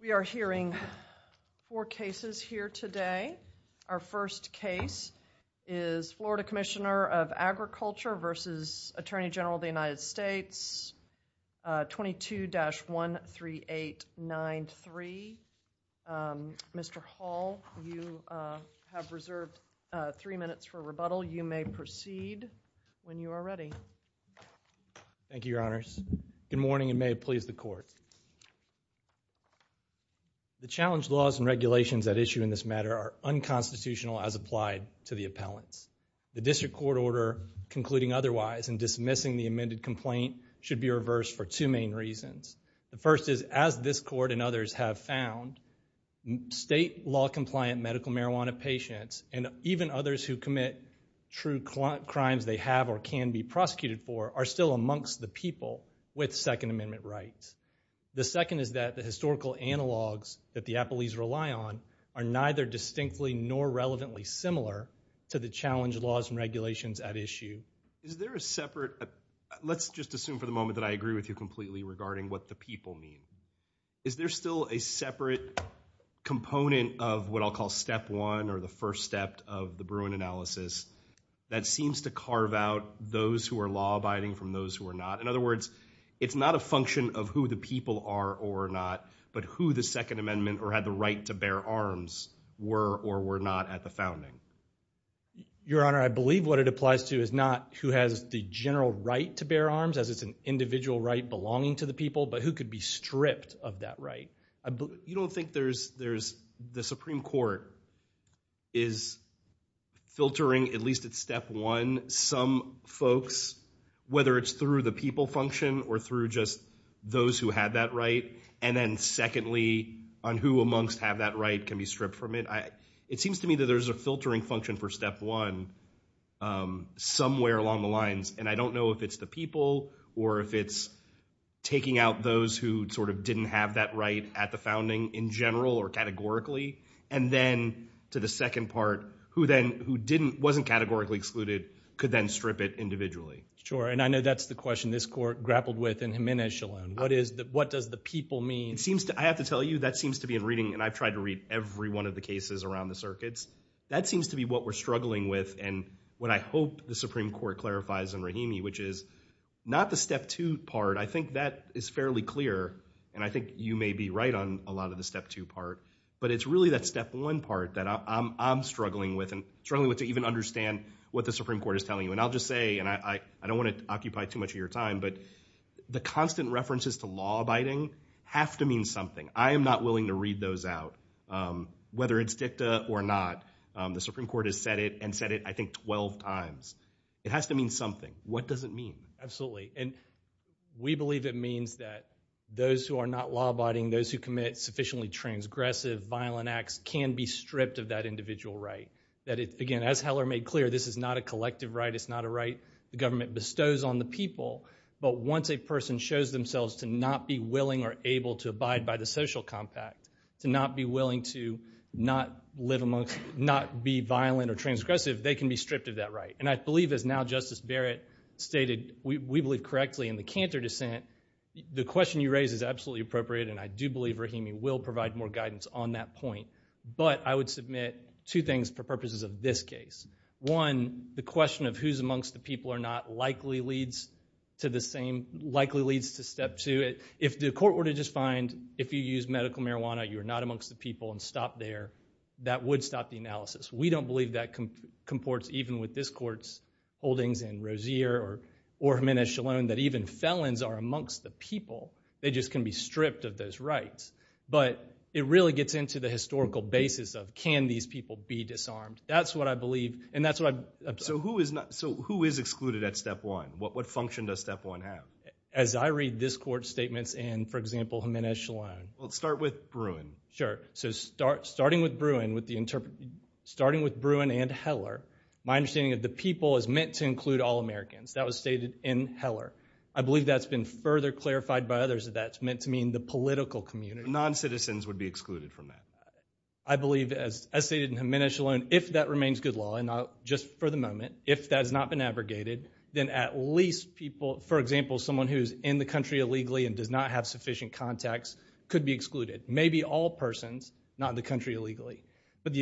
We are hearing four cases here today. Our first case is Florida Commissioner of Agriculture v. Attorney General of the United States 22-13893. Mr. Hall, you have reserved three minutes for rebuttal. You may proceed when you are ready. Thank you. The challenged laws and regulations at issue in this matter are unconstitutional as applied to the appellants. The district court order concluding otherwise and dismissing the amended complaint should be reversed for two main reasons. The first is as this court and others have found, state law compliant medical marijuana patients and even others who commit true crimes they have or can be prosecuted for are still amongst the people with Second Amendment rights. The second is that the historical analogs that the appellees rely on are neither distinctly nor relevantly similar to the challenged laws and regulations at issue. Is there a separate, let's just assume for the moment that I agree with you completely regarding what the people mean. Is there still a separate component of what I'll call step one or the first step of the Bruin analysis that seems to carve out those who are law abiding from those who are not? In other words, it's not a function of who the people are or not, but who the Second Amendment or had the right to bear arms were or were not at the founding. Your Honor, I believe what it applies to is not who has the general right to bear arms as it's an individual right belonging to the people, but who could be stripped of that right. You don't think there's the Supreme Court is filtering at least at step one some folks, whether it's through the people function or through just those who had that right. And then secondly, on who amongst have that right can be stripped from it. It seems to me that there's a filtering function for step one somewhere along the lines. And I don't know if it's the people or if it's taking out those who sort of didn't have that right at the founding in general or categorically. And then to the second part, who then who didn't wasn't categorically excluded, could then strip it individually. Sure. And I know that's the question this court grappled with in Jimenez Shalom. What is that? What does the people mean? It seems to I have to tell you that seems to be in reading and I've tried to read every one of the cases around the circuits. That seems to be what we're struggling with. And what I hope the Supreme Court clarifies in Rahimi, which is not the step two part. I think that is fairly clear. And I think you may be right on a lot of the step two part. But it's really that step one part that I'm struggling with and struggling with to even understand what the Supreme Court is telling you. And I'll just say, and I don't want to occupy too much of your time, but the constant references to law abiding have to mean something. I am not willing to read those out. Whether it's dicta or not, the Supreme Court has said it and said it, I think, 12 times. It has to mean something. What does it mean? Absolutely. And we believe it means that those who are not law abiding, those who commit sufficiently transgressive, violent acts can be stripped of that individual right. That again, as Heller made clear, this is not a collective right. It's not a right the government bestows on the people. But once a person shows themselves to not be willing or able to abide by the social compact, to not be willing to not live amongst, not be violent or transgressive, they can be stripped of that right. And I believe as now Justice Barrett stated, we believe correctly in the canter dissent. The question you raise is will provide more guidance on that point. But I would submit two things for purposes of this case. One, the question of who's amongst the people or not likely leads to the same, likely leads to step two. If the court were to just find if you use medical marijuana, you're not amongst the people and stop there, that would stop the analysis. We don't believe that comports even with this court's holdings in Rozier or Jimenez-Shallone, that even felons are amongst the people. They just can be stripped of those rights. But it really gets into the historical basis of can these people be disarmed. That's what I believe. And that's what I. So who is excluded at step one? What function does step one have? As I read this court's statements in, for example, Jimenez-Shallone. Well, let's start with Bruin. Sure. So starting with Bruin and Heller, my understanding of the people is meant to include all Americans. That was stated in Heller. I believe that's been further clarified by others that that's meant to mean the political community. Non-citizens would be excluded from that. I believe, as stated in Jimenez-Shallone, if that remains good law, and just for the moment, if that has not been abrogated, then at least people, for example, someone who's in the country illegally and does not have sufficient contacts could be excluded. Maybe all persons, not in the country illegally, but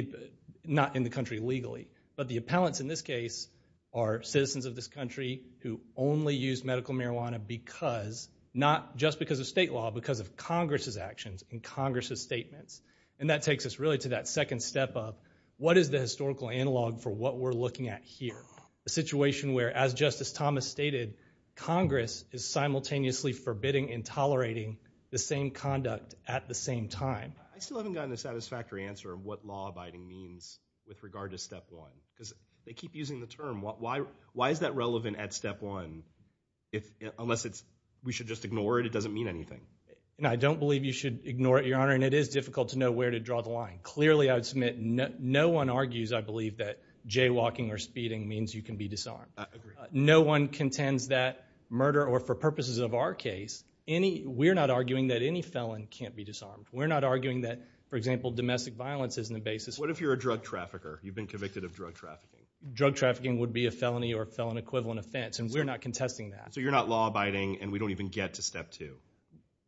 not in the country legally. But the appellants in this case are citizens of this country who only use medical marijuana because, not just because of state law, because of Congress's actions and Congress's statements. And that takes us really to that second step of what is the historical analog for what we're looking at here? A situation where, as Justice Thomas stated, Congress is simultaneously forbidding and tolerating the same conduct at the same time. I still haven't gotten a satisfactory answer on what law-abiding means with regard to step one, because they keep using the term. Why is that relevant at step one? Unless we should just ignore it, it doesn't mean anything. I don't believe you should ignore it, Your Honor, and it is difficult to know where to draw the line. Clearly, I would submit, no one argues, I believe, that jaywalking or speeding means you can be disarmed. No one contends that murder, or for purposes of our case, we're not arguing that any felon can't be disarmed. We're not arguing that, for example, domestic violence isn't a basis. What if you're a drug trafficker? You've been convicted of drug trafficking. Drug trafficking would be a felony or a felon equivalent offense, and we're not contesting that. So you're not law-abiding, and we don't even get to step two?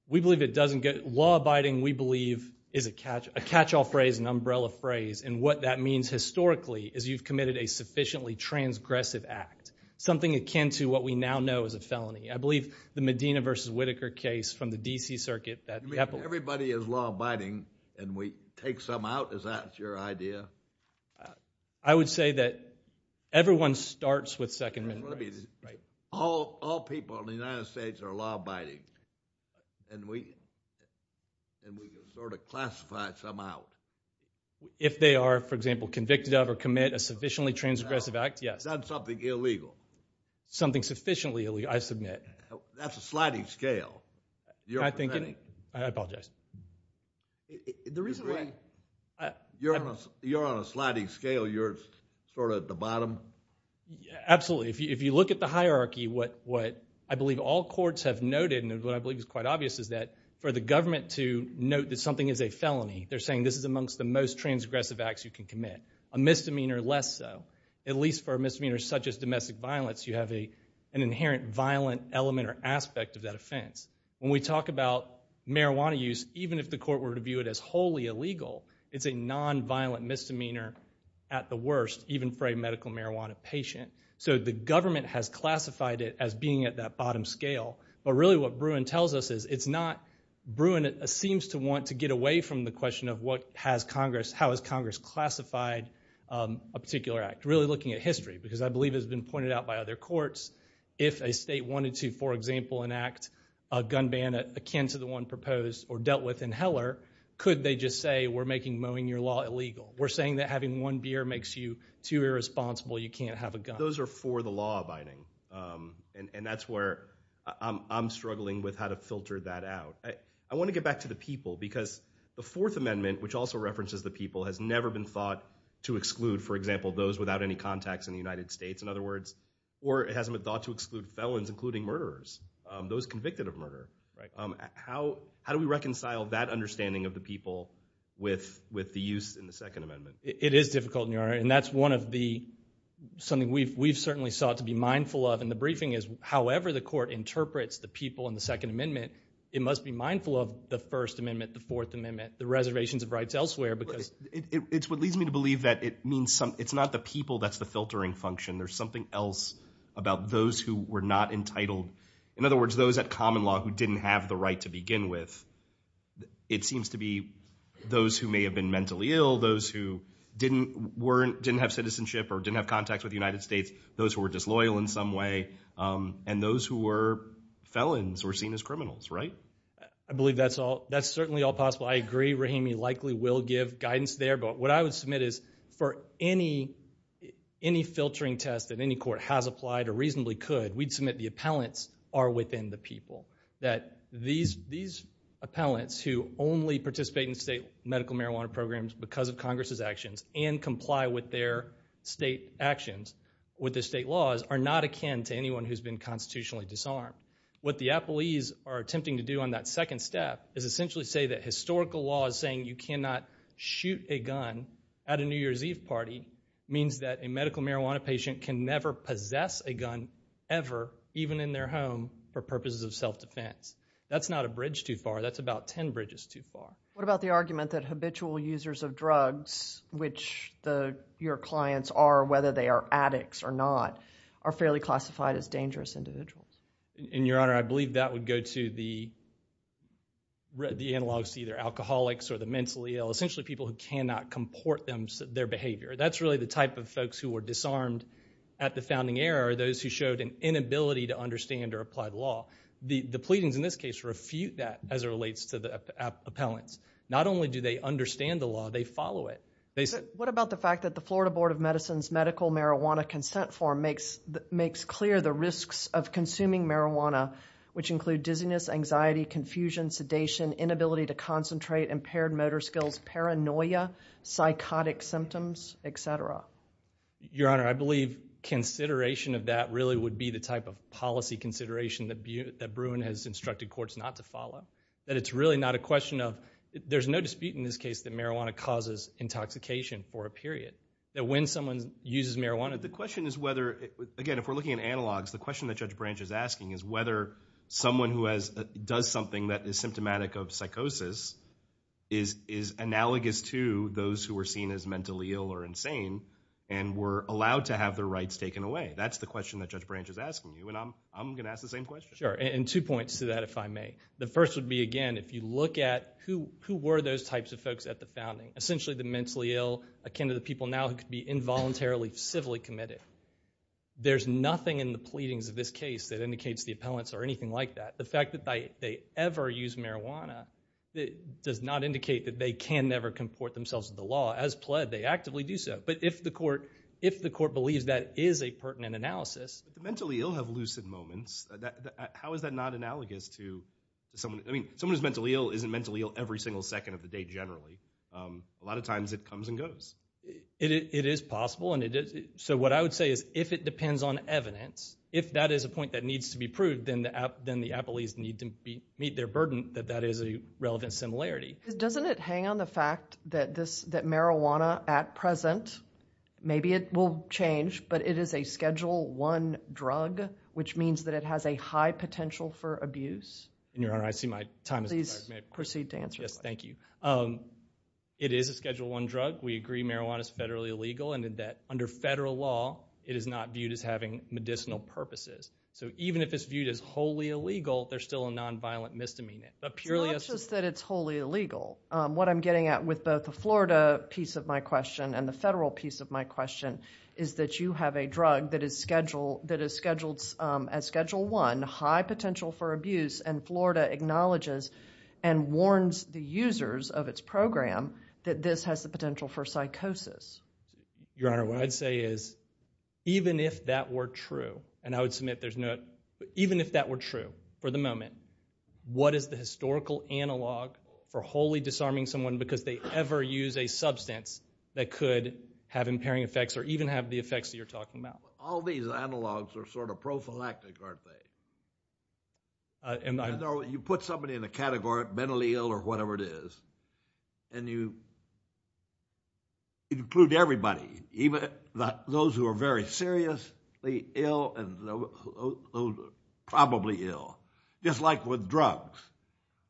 We believe it doesn't get, law-abiding, we believe, is a catch-all phrase, an umbrella phrase, and what that means historically is you've committed a sufficiently transgressive act, something akin to what we now know is a felony. I believe the Medina v. Whitaker case from the D.C. Circuit, that capital... I would say that everyone starts with Second Amendment rights. All people in the United States are law-abiding, and we can sort of classify some out. If they are, for example, convicted of or commit a sufficiently transgressive act, yes. That's something illegal. Something sufficiently illegal, I submit. That's a sliding scale. I apologize. The reason why... You're on a sliding scale. You're sort of at the bottom? Absolutely. If you look at the hierarchy, what I believe all courts have noted, and what I believe is quite obvious, is that for the government to note that something is a felony, they're saying this is amongst the most transgressive acts you can commit, a misdemeanor less so. At least for a misdemeanor such as domestic violence, you have an inherent violent element or aspect of that offense. When we talk about marijuana use, even if the court were to view it as wholly illegal, it's a nonviolent misdemeanor at the worst, even for a medical marijuana patient. So the government has classified it as being at that bottom scale, but really what Bruin tells us is it's not... Bruin seems to want to get away from the question of how has Congress classified a particular act, really looking at history, because I believe it's been pointed out by other courts if a state wanted to, for example, enact a gun ban akin to the one proposed or dealt with in Heller, could they just say we're making mowing your law illegal? We're saying that having one beer makes you too irresponsible, you can't have a gun. Those are for the law abiding, and that's where I'm struggling with how to filter that out. I want to get back to the people, because the Fourth Amendment, which also references the people, has never been thought to exclude, for example, those without any contacts in the United States, in other words, or it hasn't been thought to exclude felons, including murderers, those convicted of murder. How do we reconcile that understanding of the people with the use in the Second Amendment? It is difficult, and that's one of the, something we've certainly sought to be mindful of in the briefing is however the court interprets the people in the Second Amendment, it must be mindful of the First Amendment, the Fourth Amendment, the reservations of rights elsewhere, because... It's what leads me to believe that it's not the people that's the filtering function, there's something else about those who were not entitled, in other words, those at common law who didn't have the right to begin with. It seems to be those who may have been mentally ill, those who didn't have citizenship or didn't have contacts with the United States, those who were disloyal in some way, and those who were felons or seen as criminals, right? I believe that's certainly all possible. I agree, Rahimi likely will give guidance there, but what I would submit is for any filtering test that any court has applied or reasonably could, we'd submit the appellants are within the people. That these appellants who only participate in state medical marijuana programs because of Congress's actions and comply with their state actions, with the state laws, are not akin to anyone who's been constitutionally disarmed. What the appellees are attempting to do on that second step is essentially say that historical law is saying you cannot shoot a gun at a New Year's Eve party means that a medical marijuana patient can never possess a gun ever, even in their home, for purposes of self-defense. That's not a bridge too far, that's about ten bridges too far. What about the argument that habitual users of drugs, which your clients are, whether they are addicts or not, are fairly classified as dangerous individuals? Your Honor, I believe that would go to the analogous to either alcoholics or the mentally ill, essentially people who cannot comport their behavior. That's really the type of folks who were disarmed at the founding era, those who showed an inability to understand or apply the law. The pleadings in this case refute that as it relates to the appellants. Not only do they understand the law, they follow it. What about the fact that the Florida Board of Medicine's Medical Marijuana Consent Form makes clear the risks of consuming marijuana, which include dizziness, anxiety, confusion, sedation, inability to concentrate, impaired motor skills, paranoia, psychotic symptoms, etc.? Your Honor, I believe consideration of that really would be the type of policy consideration that Bruin has instructed courts not to follow. That it's really not a question of, there's no dispute in this case that marijuana causes intoxication for a period. That when someone uses marijuana... The question is whether, again, if we're looking at analogs, the question that Judge Branch is asking is whether someone who does something that is symptomatic of psychosis is analogous to those who are seen as mentally ill or insane and were allowed to have their rights taken away. That's the question that Judge Branch is asking you, and I'm going to ask the same question. Sure, and two points to that, if I may. The first would be, again, if you look at who were those types of folks at the founding, essentially the mentally ill akin to the people now who could be involuntarily civilly committed. There's nothing in the pleadings of this case that indicates the appellants or anything like that. The fact that they ever use marijuana does not indicate that they can never comport themselves with the law. As pled, they actively do so. But if the court believes that is a pertinent analysis... But the mentally ill have lucid moments. How is that not analogous to someone... If the mentally ill isn't mentally ill every single second of the day generally, a lot of times it comes and goes. It is possible. So what I would say is if it depends on evidence, if that is a point that needs to be proved, then the appellees need to meet their burden that that is a relevant similarity. Doesn't it hang on the fact that marijuana at present, maybe it will change, but it is a Schedule I drug, which means that it has a high potential for abuse? Your Honor, I see my time has expired. Please proceed to answer the question. Yes, thank you. It is a Schedule I drug. We agree marijuana is federally illegal and that under federal law, it is not viewed as having medicinal purposes. So even if it's viewed as wholly illegal, there's still a nonviolent misdemeanor. It's not just that it's wholly illegal. What I'm getting at with both the Florida piece of my question and the federal piece of my question is that you have a drug that is scheduled as Schedule I, high potential for abuse, and Florida acknowledges and warns the users of its program that this has the potential for psychosis. Your Honor, what I'd say is even if that were true, and I would submit there's no—even if that were true for the moment, what is the historical analog for wholly disarming someone because they ever use a substance that could have impairing effects or even have the effects that you're talking about? All these analogs are sort of prophylactic, aren't they? You put somebody in a category, mentally ill or whatever it is, and you include everybody, even those who are very seriously ill and those who are probably ill. Just like with drugs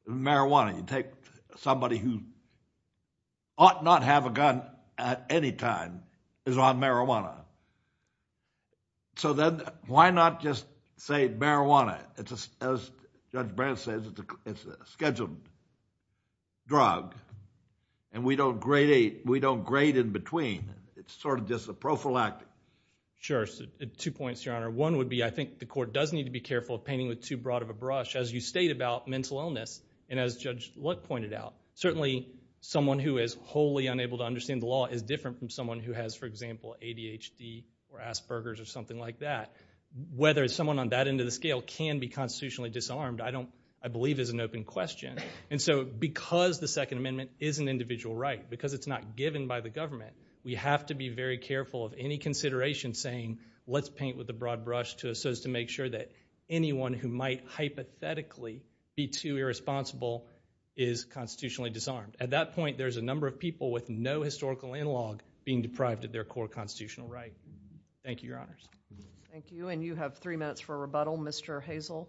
and marijuana, you take somebody who ought not have a gun at any time is on marijuana. So then why not just say marijuana? As Judge Brandt says, it's a scheduled drug, and we don't grade in between. It's sort of just a prophylactic. Sure. Two points, Your Honor. One would be I think the court does need to be careful of painting with too broad of a brush. As you state about mental illness and as Judge Lutt pointed out, certainly someone who is wholly unable to understand the law is different from someone who has, for example, ADHD or Asperger's or something like that. Whether someone on that end of the scale can be constitutionally disarmed I believe is an open question. So because the Second Amendment is an individual right, because it's not given by the government, we have to be very careful of any consideration saying let's paint with a broad brush so as to make sure that anyone who might hypothetically be too irresponsible is constitutionally disarmed. At that point, there's a number of people with no historical analog being deprived of their core constitutional right. Thank you, Your Honors. Thank you. And you have three minutes for rebuttal, Mr. Hazel.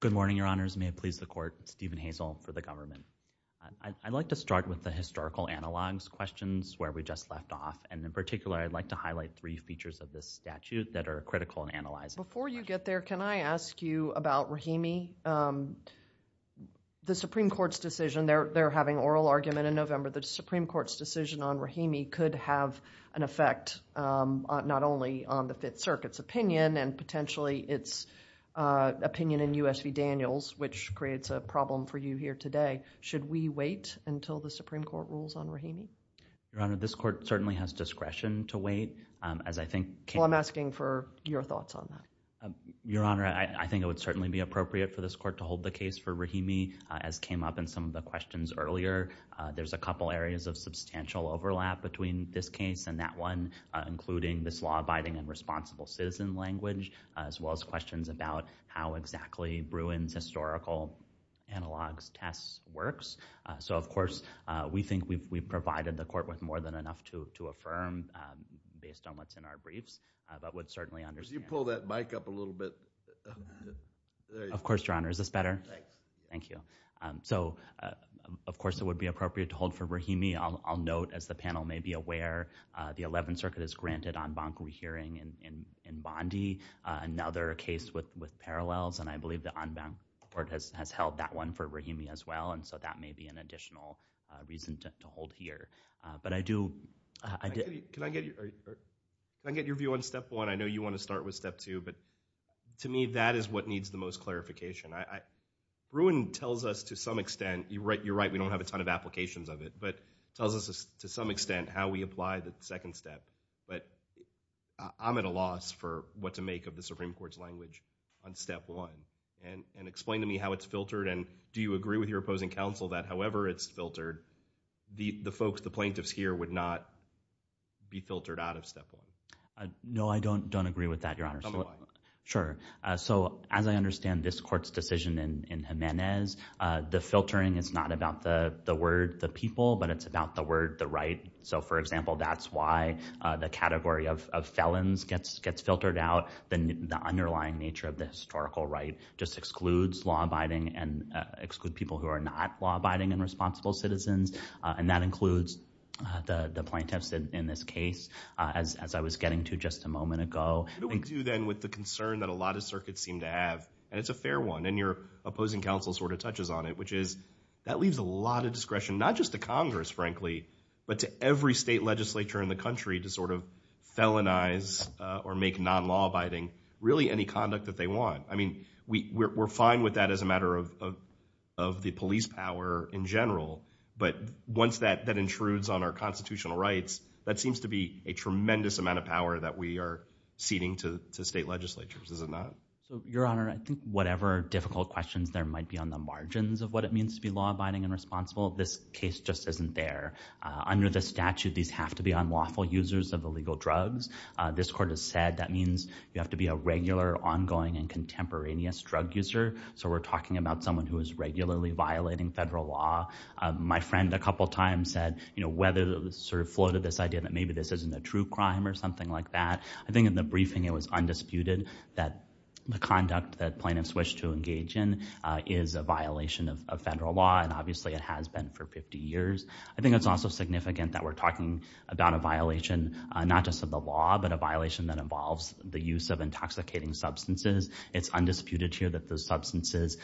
Good morning, Your Honors. May it please the court, Stephen Hazel for the government. I'd like to start with the historical analogs questions where we just left off, and in particular I'd like to highlight three features of this statute that are critical in analyzing. Before you get there, can I ask you about Rahimi? The Supreme Court's decision, they're having oral argument in November. The Supreme Court's decision on Rahimi could have an effect not only on the Fifth Circuit's opinion and potentially its opinion in U.S. v. Daniels, which creates a problem for you here today. Should we wait until the Supreme Court rules on Rahimi? Your Honor, this court certainly has discretion to wait. Well, I'm asking for your thoughts on that. Your Honor, I think it would certainly be appropriate for this court to hold the case for Rahimi, as came up in some of the questions earlier. There's a couple areas of substantial overlap between this case and that one, including this law-abiding and responsible citizen language, as well as questions about how exactly Bruin's historical analogs test works. Of course, we think we've provided the court with more than enough to affirm based on what's in our briefs, but would certainly understand. Could you pull that mic up a little bit? Of course, Your Honor. Is this better? Thanks. Thank you. Of course, it would be appropriate to hold for Rahimi. I'll note, as the panel may be aware, the Eleventh Circuit has granted en banc rehearing in Bondi, another case with parallels, and I believe the en banc court has held that one for Rahimi as well, and so that may be an additional reason to hold here. But I do— Can I get your view on step one? I know you want to start with step two, but to me, that is what needs the most clarification. Bruin tells us to some extent—you're right, we don't have a ton of applications of it—but tells us to some extent how we apply the second step, but I'm at a loss for what to make of the Supreme Court's language on step one. And explain to me how it's filtered, and do you agree with your opposing counsel that however it's filtered, the plaintiffs here would not be filtered out of step one? No, I don't agree with that, Your Honor. Tell me why. Sure. So, as I understand this Court's decision in Jimenez, the filtering is not about the word, the people, but it's about the word, the right. So, for example, that's why the category of felons gets filtered out. The underlying nature of the historical right just excludes law-abiding and excludes people who are not law-abiding and responsible citizens, and that includes the plaintiffs in this case, as I was getting to just a moment ago. But we do, then, with the concern that a lot of circuits seem to have, and it's a fair one, and your opposing counsel sort of touches on it, which is that leaves a lot of discretion, not just to Congress, frankly, but to every state legislature in the country to sort of felonize or make non-law-abiding really any conduct that they want. I mean, we're fine with that as a matter of the police power in general, but once that intrudes on our constitutional rights, that seems to be a tremendous amount of power that we are ceding to state legislatures, is it not? So, Your Honor, I think whatever difficult questions there might be on the margins of what it means to be law-abiding and responsible, this case just isn't there. Under the statute, these have to be unlawful users of illegal drugs. This Court has said that means you have to be a regular, ongoing, and contemporaneous drug user. So we're talking about someone who is regularly violating federal law. My friend a couple times said, you know, whether sort of floated this idea that maybe this isn't a true crime or something like that. I think in the briefing it was undisputed that the conduct that plaintiffs wish to engage in is a violation of federal law, and obviously it has been for 50 years. I think it's also significant that we're talking about a violation, not just of the law, but a violation that involves the use of intoxicating substances. It's undisputed here that those substances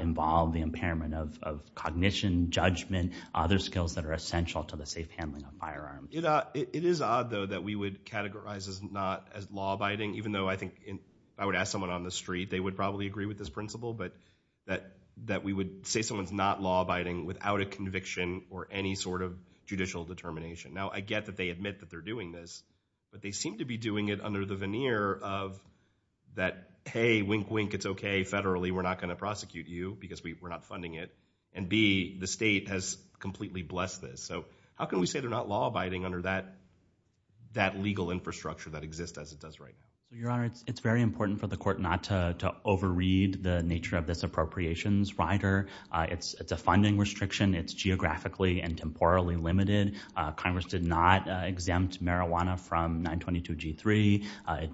involve the impairment of cognition, judgment, other skills that are essential to the safe handling of firearms. It is odd, though, that we would categorize as not as law-abiding, even though I think I would ask someone on the street, they would probably agree with this principle, but that we would say someone's not law-abiding without a conviction or any sort of judicial determination. Now I get that they admit that they're doing this, but they seem to be doing it under the veneer of that, hey, wink, wink, it's okay, federally, we're not going to prosecute you because we're not funding it, and B, the state has completely blessed this. So how can we say they're not law-abiding under that legal infrastructure that exists as it does right now? Your Honor, it's very important for the court not to overread the nature of this appropriations rider. It's a funding restriction. It's geographically and temporally limited. Congress did not exempt marijuana from 922G3.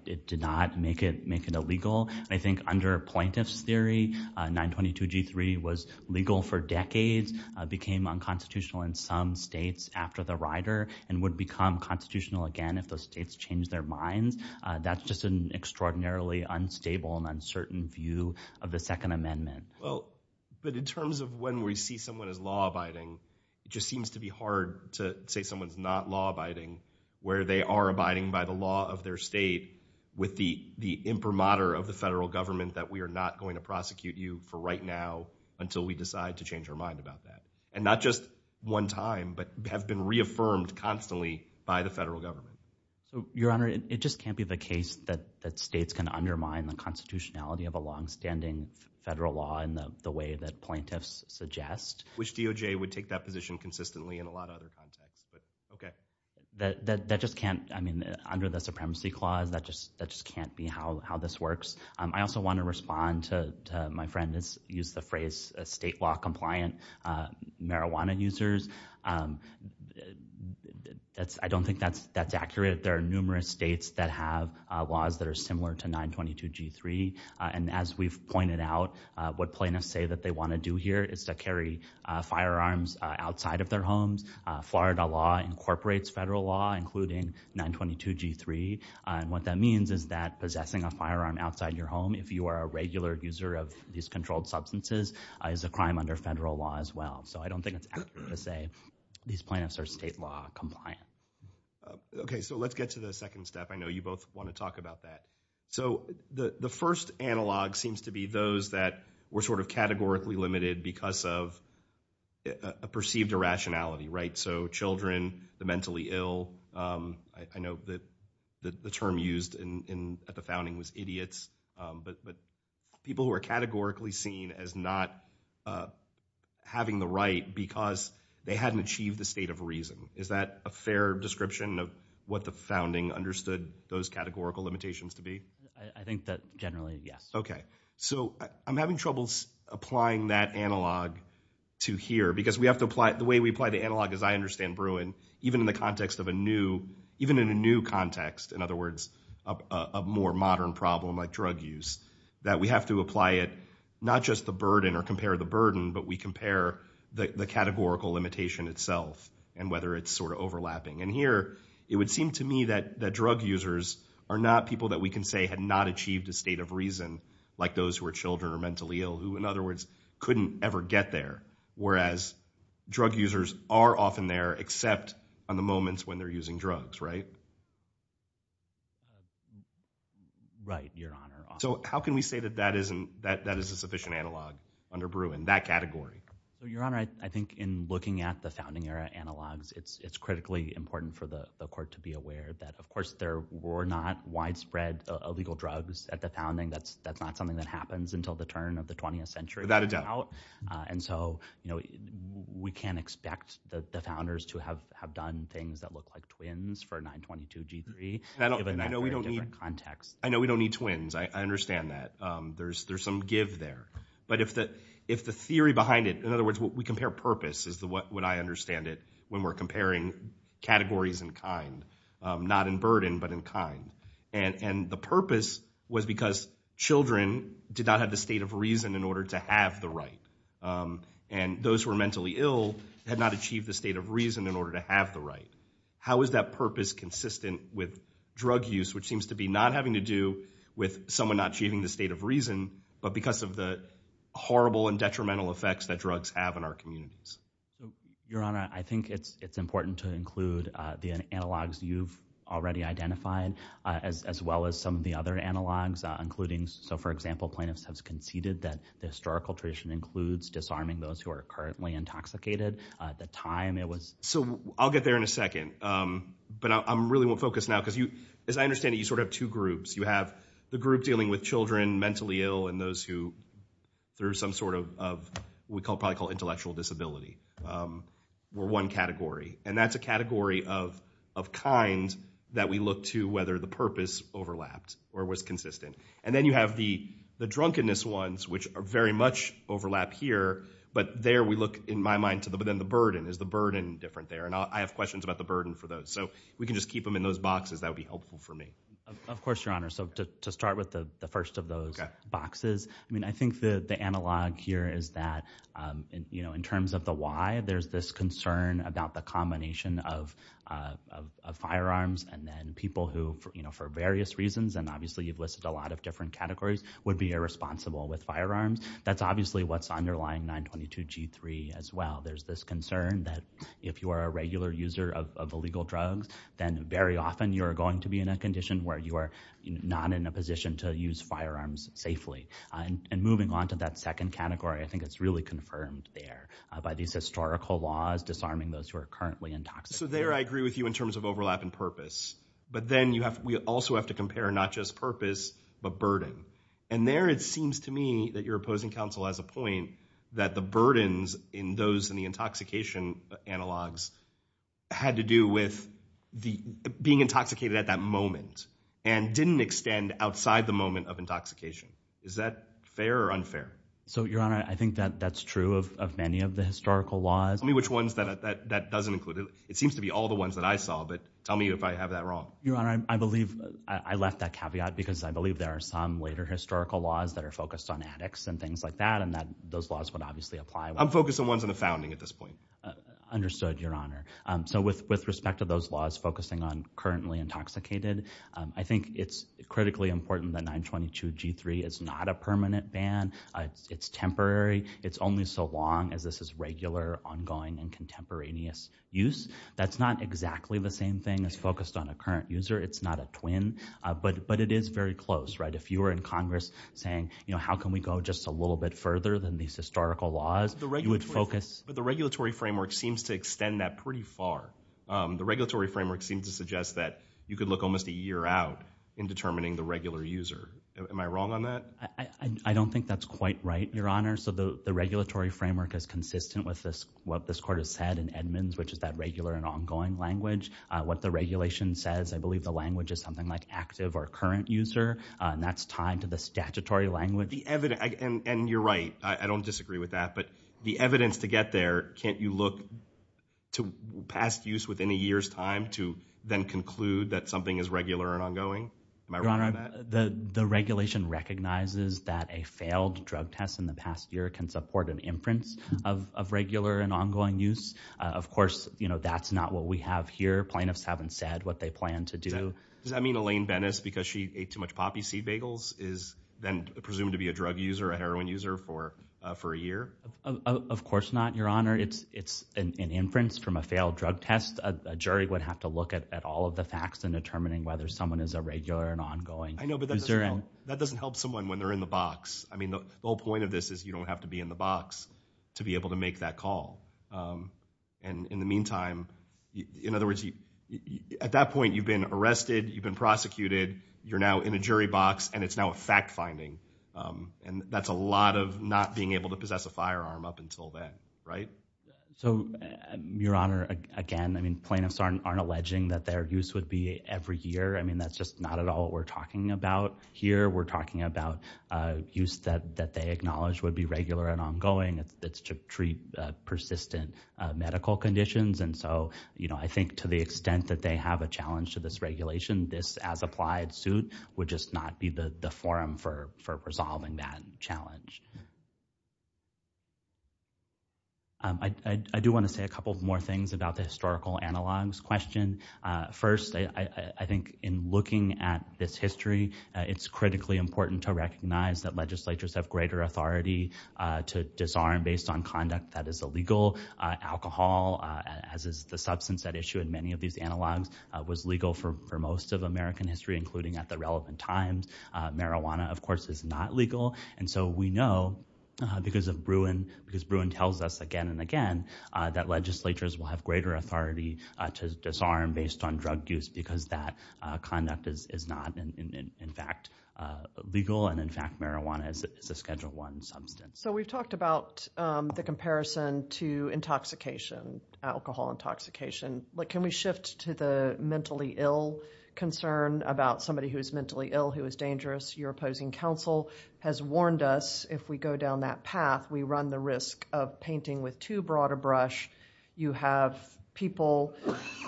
It did not make it illegal. I think under plaintiff's theory, 922G3 was legal for decades, became unconstitutional in some states after the rider, and would become constitutional again if those states changed their minds. That's just an extraordinarily unstable and uncertain view of the Second Amendment. Well, but in terms of when we see someone as law-abiding, it just seems to be hard to say someone's not law-abiding where they are abiding by the law of their state with the imprimatur of the federal government that we are not going to prosecute you for right now until we decide to change our mind about that. And not just one time, but have been reaffirmed constantly by the federal government. So, Your Honor, it just can't be the case that states can undermine the constitutionality of a longstanding federal law in the way that plaintiffs suggest. Which DOJ would take that position consistently in a lot of other contexts, but okay. That just can't, I mean, under the Supremacy Clause, that just can't be how this works. I also want to respond to my friend's use of the phrase, state law-compliant marijuana users. I don't think that's accurate. There are numerous states that have laws that are similar to 922G3. And as we've pointed out, what plaintiffs say that they want to do here is to carry firearms outside of their homes. Florida law incorporates federal law, including 922G3. And what that means is that possessing a firearm outside your home, if you are a regular user of these controlled substances, is a crime under federal law as well. So I don't think it's accurate to say these plaintiffs are state law-compliant. Okay, so let's get to the second step. I know you both want to talk about that. So the first analog seems to be those that were sort of categorically limited because of a perceived irrationality, right? So children, the mentally ill. I know that the term used at the founding was idiots. But people who are categorically seen as not having the right because they hadn't achieved the state of reason. Is that a fair description of what the founding understood those categorical limitations to be? I think that generally, yes. Okay, so I'm having trouble applying that analog to here. Because the way we apply the analog, as I understand Bruin, even in the context of a new context, in other words, a more modern problem like drug use, that we have to apply it not just the burden or compare the burden, but we compare the categorical limitation itself and whether it's sort of overlapping. And here, it would seem to me that drug users are not people that we can say had not achieved a state of reason, like those who are children or mentally ill, who, in other words, couldn't ever get there. Whereas drug users are often there except on the moments when they're using drugs, right? Right, Your Honor. So how can we say that that is a sufficient analog under Bruin, that category? Your Honor, I think in looking at the founding era analogs, it's critically important for the court to be aware that, of course, there were not widespread illegal drugs at the founding. That's not something that happens until the turn of the 20th century. Without a doubt. And so we can't expect the founders to have done things that look like twins for 922-G3, given that very different context. I know we don't need twins. I understand that. There's some give there. But if the theory behind it, in other words, we compare purpose is what I understand it when we're comparing categories and kind, not in burden but in kind. And the purpose was because children did not have the state of reason in order to have the right. And those who were mentally ill had not achieved the state of reason in order to have the right. How is that purpose consistent with drug use, which seems to be not having to do with someone not achieving the state of reason but because of the horrible and detrimental effects that drugs have in our communities? Your Honor, I think it's important to include the analogs you've already identified as well as some of the other analogs, including, so for example, plaintiffs have conceded that the historical tradition includes disarming those who are currently intoxicated. At the time, it was— So I'll get there in a second. But I really won't focus now because as I understand it, you sort of have two groups. You have the group dealing with children mentally ill and those who, through some sort of what we probably call intellectual disability, were one category. And that's a category of kind that we look to whether the purpose overlapped or was consistent. And then you have the drunkenness ones, which very much overlap here. But there we look, in my mind, to then the burden. Is the burden different there? And I have questions about the burden for those. So if we can just keep them in those boxes, that would be helpful for me. Of course, Your Honor. So to start with the first of those boxes, I mean, I think the analog here is that in terms of the why, there's this concern about the combination of firearms and then people who, for various reasons, and obviously you've listed a lot of different categories, would be irresponsible with firearms. That's obviously what's underlying 922G3 as well. There's this concern that if you are a regular user of illegal drugs, then very often you are going to be in a condition where you are not in a position to use firearms safely. And moving on to that second category, I think it's really confirmed there by these historical laws disarming those who are currently intoxicated. So there I agree with you in terms of overlap and purpose. But then we also have to compare not just purpose but burden. And there it seems to me that your opposing counsel has a point that the burdens in those in the intoxication analogs had to do with being intoxicated at that moment and didn't extend outside the moment of intoxication. Is that fair or unfair? So, Your Honor, I think that that's true of many of the historical laws. Tell me which ones that doesn't include. It seems to be all the ones that I saw, but tell me if I have that wrong. Your Honor, I believe I left that caveat because I believe there are some later historical laws that are focused on addicts and things like that, and that those laws would obviously apply. I'm focused on ones in the founding at this point. Understood, Your Honor. So with respect to those laws focusing on currently intoxicated, I think it's critically important that 922G3 is not a permanent ban. It's temporary. It's only so long as this is regular, ongoing, and contemporaneous use. That's not exactly the same thing as focused on a current user. It's not a twin. But it is very close, right? If you were in Congress saying, you know, how can we go just a little bit further than these historical laws, you would focus. But the regulatory framework seems to extend that pretty far. The regulatory framework seems to suggest that you could look almost a year out in determining the regular user. Am I wrong on that? I don't think that's quite right, Your Honor. So the regulatory framework is consistent with what this court has said in Edmonds, which is that regular and ongoing language. What the regulation says, I believe the language is something like active or current user, and that's tied to the statutory language. And you're right. I don't disagree with that. But the evidence to get there, can't you look to past use within a year's time to then conclude that something is regular and ongoing? Am I wrong on that? Your Honor, the regulation recognizes that a failed drug test in the past year can support an inference of regular and ongoing use. Of course, you know, that's not what we have here. Plaintiffs haven't said what they plan to do. Does that mean Elaine Bennis, because she ate too much poppy seed bagels, is then presumed to be a drug user, a heroin user for a year? Of course not, Your Honor. It's an inference from a failed drug test. A jury would have to look at all of the facts in determining whether someone is a regular and ongoing user. I know, but that doesn't help someone when they're in the box. I mean, the whole point of this is you don't have to be in the box to be able to make that call. And in the meantime, in other words, at that point, you've been arrested, you've been prosecuted, you're now in a jury box, and it's now a fact finding. And that's a lot of not being able to possess a firearm up until then, right? So, Your Honor, again, I mean, plaintiffs aren't alleging that their use would be every year. I mean, that's just not at all what we're talking about here. We're talking about use that they acknowledge would be regular and ongoing. It's to treat persistent medical conditions. And so, you know, I think to the extent that they have a challenge to this regulation, this as-applied suit would just not be the forum for resolving that challenge. I do want to say a couple more things about the historical analogues question. First, I think in looking at this history, it's critically important to recognize that legislatures have greater authority to disarm based on conduct that is illegal. Alcohol, as is the substance at issue in many of these analogues, was legal for most of American history, including at the relevant times. Marijuana, of course, is not legal. And so we know because Bruin tells us again and again that legislatures will have greater authority to disarm based on drug use because that conduct is not, in fact, legal. And, in fact, marijuana is a Schedule I substance. So we've talked about the comparison to intoxication, alcohol intoxication. But can we shift to the mentally ill concern about somebody who is mentally ill, who is dangerous? Your opposing counsel has warned us if we go down that path, we run the risk of painting with too broad a brush. You have people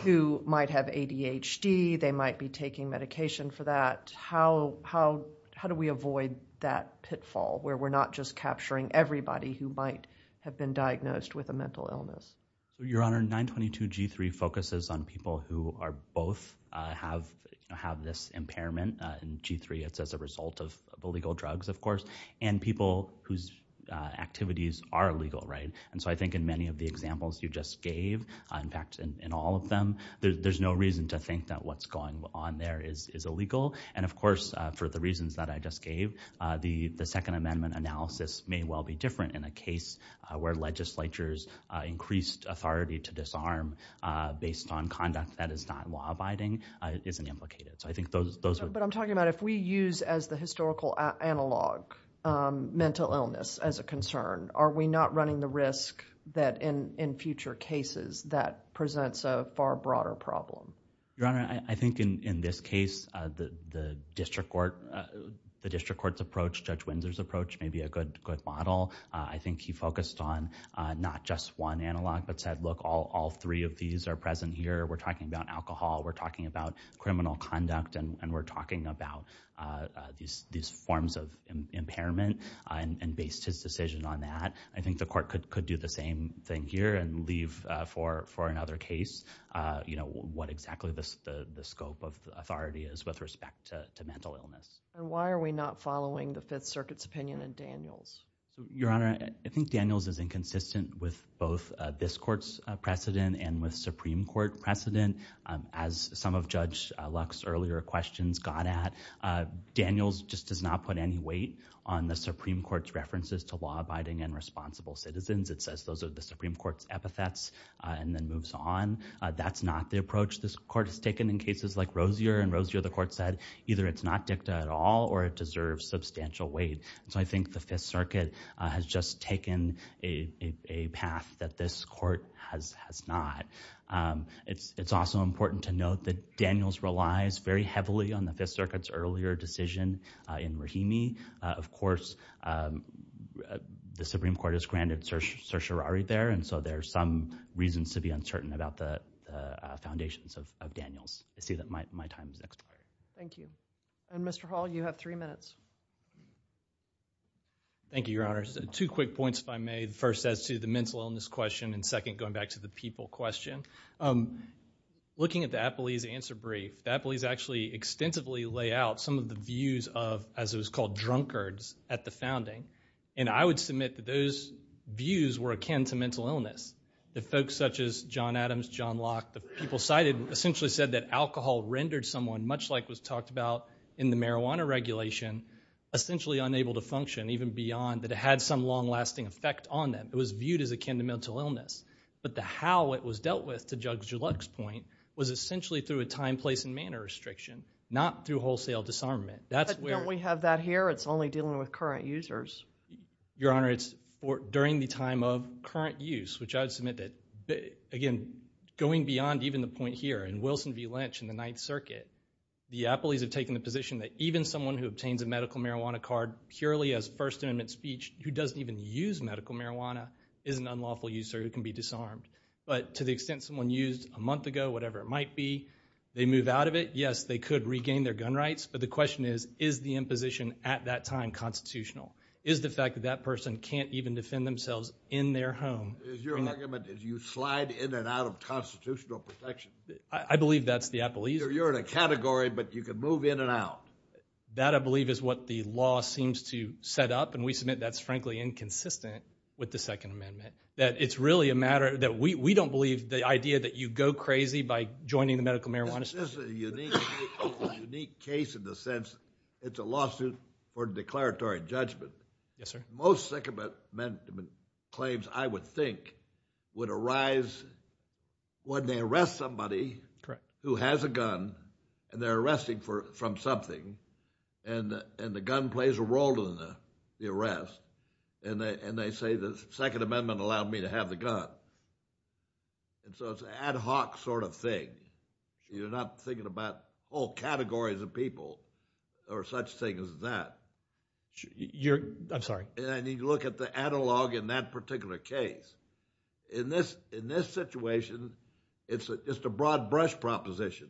who might have ADHD. They might be taking medication for that. How do we avoid that pitfall where we're not just capturing everybody who might have been diagnosed with a mental illness? Your Honor, 922G3 focuses on people who both have this impairment. In G3, it's as a result of illegal drugs, of course, and people whose activities are illegal. And so I think in many of the examples you just gave, in fact, in all of them, there's no reason to think that what's going on there is illegal. And, of course, for the reasons that I just gave, the Second Amendment analysis may well be different in a case where legislatures increased authority to disarm based on conduct that is not law-abiding isn't implicated. So I think those would— But I'm talking about if we use as the historical analog mental illness as a concern, are we not running the risk that in future cases that presents a far broader problem? Your Honor, I think in this case, the district court's approach, Judge Windsor's approach may be a good model. I think he focused on not just one analog but said, look, all three of these are present here. We're talking about alcohol. We're talking about criminal conduct. And we're talking about these forms of impairment and based his decision on that. I think the court could do the same thing here and leave for another case what exactly the scope of authority is with respect to mental illness. And why are we not following the Fifth Circuit's opinion in Daniels? Your Honor, I think Daniels is inconsistent with both this court's precedent and with Supreme Court precedent. As some of Judge Luck's earlier questions got at, Daniels just does not put any weight on the Supreme Court's references to law-abiding and responsible citizens. It says those are the Supreme Court's epithets and then moves on. That's not the approach this court has taken in cases like Rosier. And Rosier, the court said, either it's not dicta at all or it deserves substantial weight. So I think the Fifth Circuit has just taken a path that this court has not. It's also important to note that Daniels relies very heavily on the Fifth Circuit's earlier decision in Rahimi. Of course, the Supreme Court has granted certiorari there. And so there are some reasons to be uncertain about the foundations of Daniels. I see that my time has expired. Thank you. And, Mr. Hall, you have three minutes. Thank you, Your Honor. Two quick points, if I may. First, as to the mental illness question, and second, going back to the people question. Looking at the Appley's answer brief, the Appley's actually extensively lay out some of the views of, as it was called, drunkards at the founding. And I would submit that those views were akin to mental illness. The folks such as John Adams, John Locke, the people cited essentially said that alcohol rendered someone, much like was talked about in the marijuana regulation, essentially unable to function, even beyond that it had some long-lasting effect on them. It was viewed as akin to mental illness. But the how it was dealt with, to Judge Geluck's point, was essentially through a time, place, and manner restriction, not through wholesale disarmament. But don't we have that here? It's only dealing with current users. Your Honor, it's during the time of current use, which I would submit that, again, going beyond even the point here, in Wilson v. Lynch in the Ninth Circuit, the Appley's have taken the position that even someone who obtains a medical marijuana card purely as First Amendment speech, who doesn't even use medical marijuana, is an unlawful user who can be disarmed. But to the extent someone used a month ago, whatever it might be, they move out of it, yes, they could regain their gun rights. But the question is, is the imposition at that time constitutional? Is the fact that that person can't even defend themselves in their home? Is your argument that you slide in and out of constitutional protection? I believe that's the Appley's view. You're in a category, but you can move in and out. That, I believe, is what the law seems to set up, and we submit that's frankly inconsistent with the Second Amendment, that it's really a matter that we don't believe the idea that you go crazy by joining the medical marijuana system. This is a unique case in the sense it's a lawsuit for declaratory judgment. Yes, sir. Most Second Amendment claims, I would think, would arise when they arrest somebody who has a gun, and they're arresting from something, and the gun plays a role in the arrest, and they say the Second Amendment allowed me to have the gun. And so it's an ad hoc sort of thing. You're not thinking about whole categories of people or such things as that. I'm sorry. I need to look at the analog in that particular case. In this situation, it's the broad brush proposition.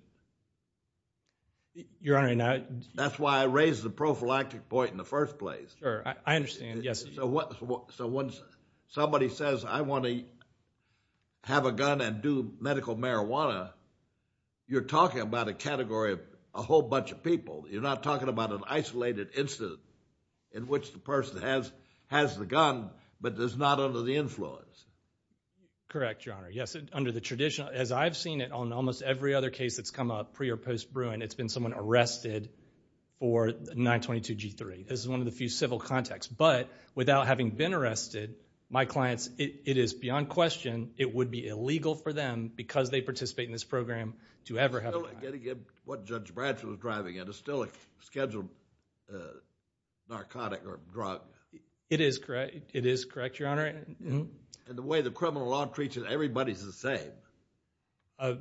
Your Honor, and I— That's why I raised the prophylactic point in the first place. Sure. I understand. Yes. So when somebody says, I want to have a gun and do medical marijuana, you're talking about a category of a whole bunch of people. You're not talking about an isolated incident in which the person has the gun but is not under the influence. Correct, Your Honor. Yes, under the traditional—as I've seen it on almost every other case that's come up pre- or post-Bruin, it's been someone arrested for 922G3. This is one of the few civil contacts. But without having been arrested, my clients—it is beyond question it would be illegal for them, because they participate in this program, to ever have a gun. Again, what Judge Bradshaw was driving at is still a scheduled narcotic or drug. It is correct, Your Honor. And the way the criminal law treats it, everybody's the same.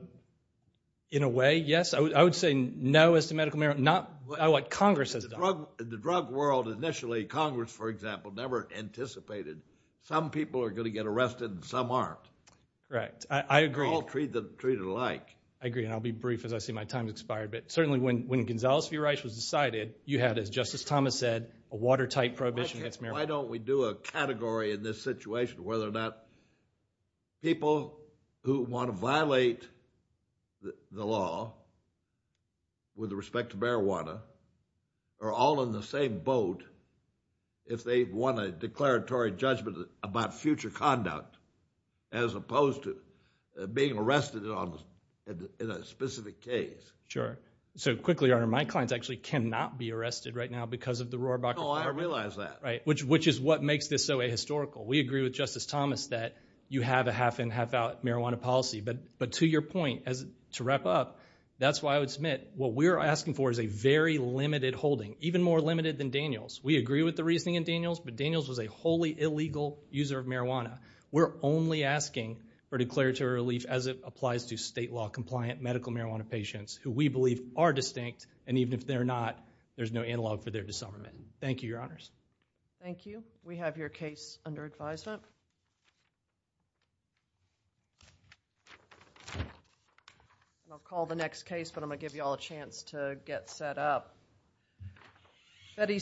In a way, yes. I would say no as to medical marijuana, not what Congress has done. In the drug world, initially, Congress, for example, never anticipated some people are going to get arrested and some aren't. Correct. I agree. They're all treated alike. I agree, and I'll be brief as I see my time has expired. But certainly when Gonzales v. Rice was decided, you had, as Justice Thomas said, a watertight prohibition against marijuana. Why don't we do a category in this situation whether or not people who want to violate the law with respect to marijuana are all in the same boat if they want a declaratory judgment about future conduct as opposed to being arrested in a specific case? Sure. So, quickly, Your Honor, my clients actually cannot be arrested right now because of the Rohrabacher Fire. Oh, I realize that. Right, which is what makes this so ahistorical. We agree with Justice Thomas that you have a half-in, half-out marijuana policy. But to your point, to wrap up, that's why I would submit what we're asking for is a very limited holding, even more limited than Daniels. We agree with the reasoning in Daniels, but Daniels was a wholly illegal user of marijuana. We're only asking for declaratory relief as it applies to state-law compliant medical marijuana patients who we believe are distinct, and even if they're not, there's no analog for their disarmament. Thank you, Your Honors. Thank you. We have your case under advisement. I'll call the next case, but I'm going to give you all a chance to get set up.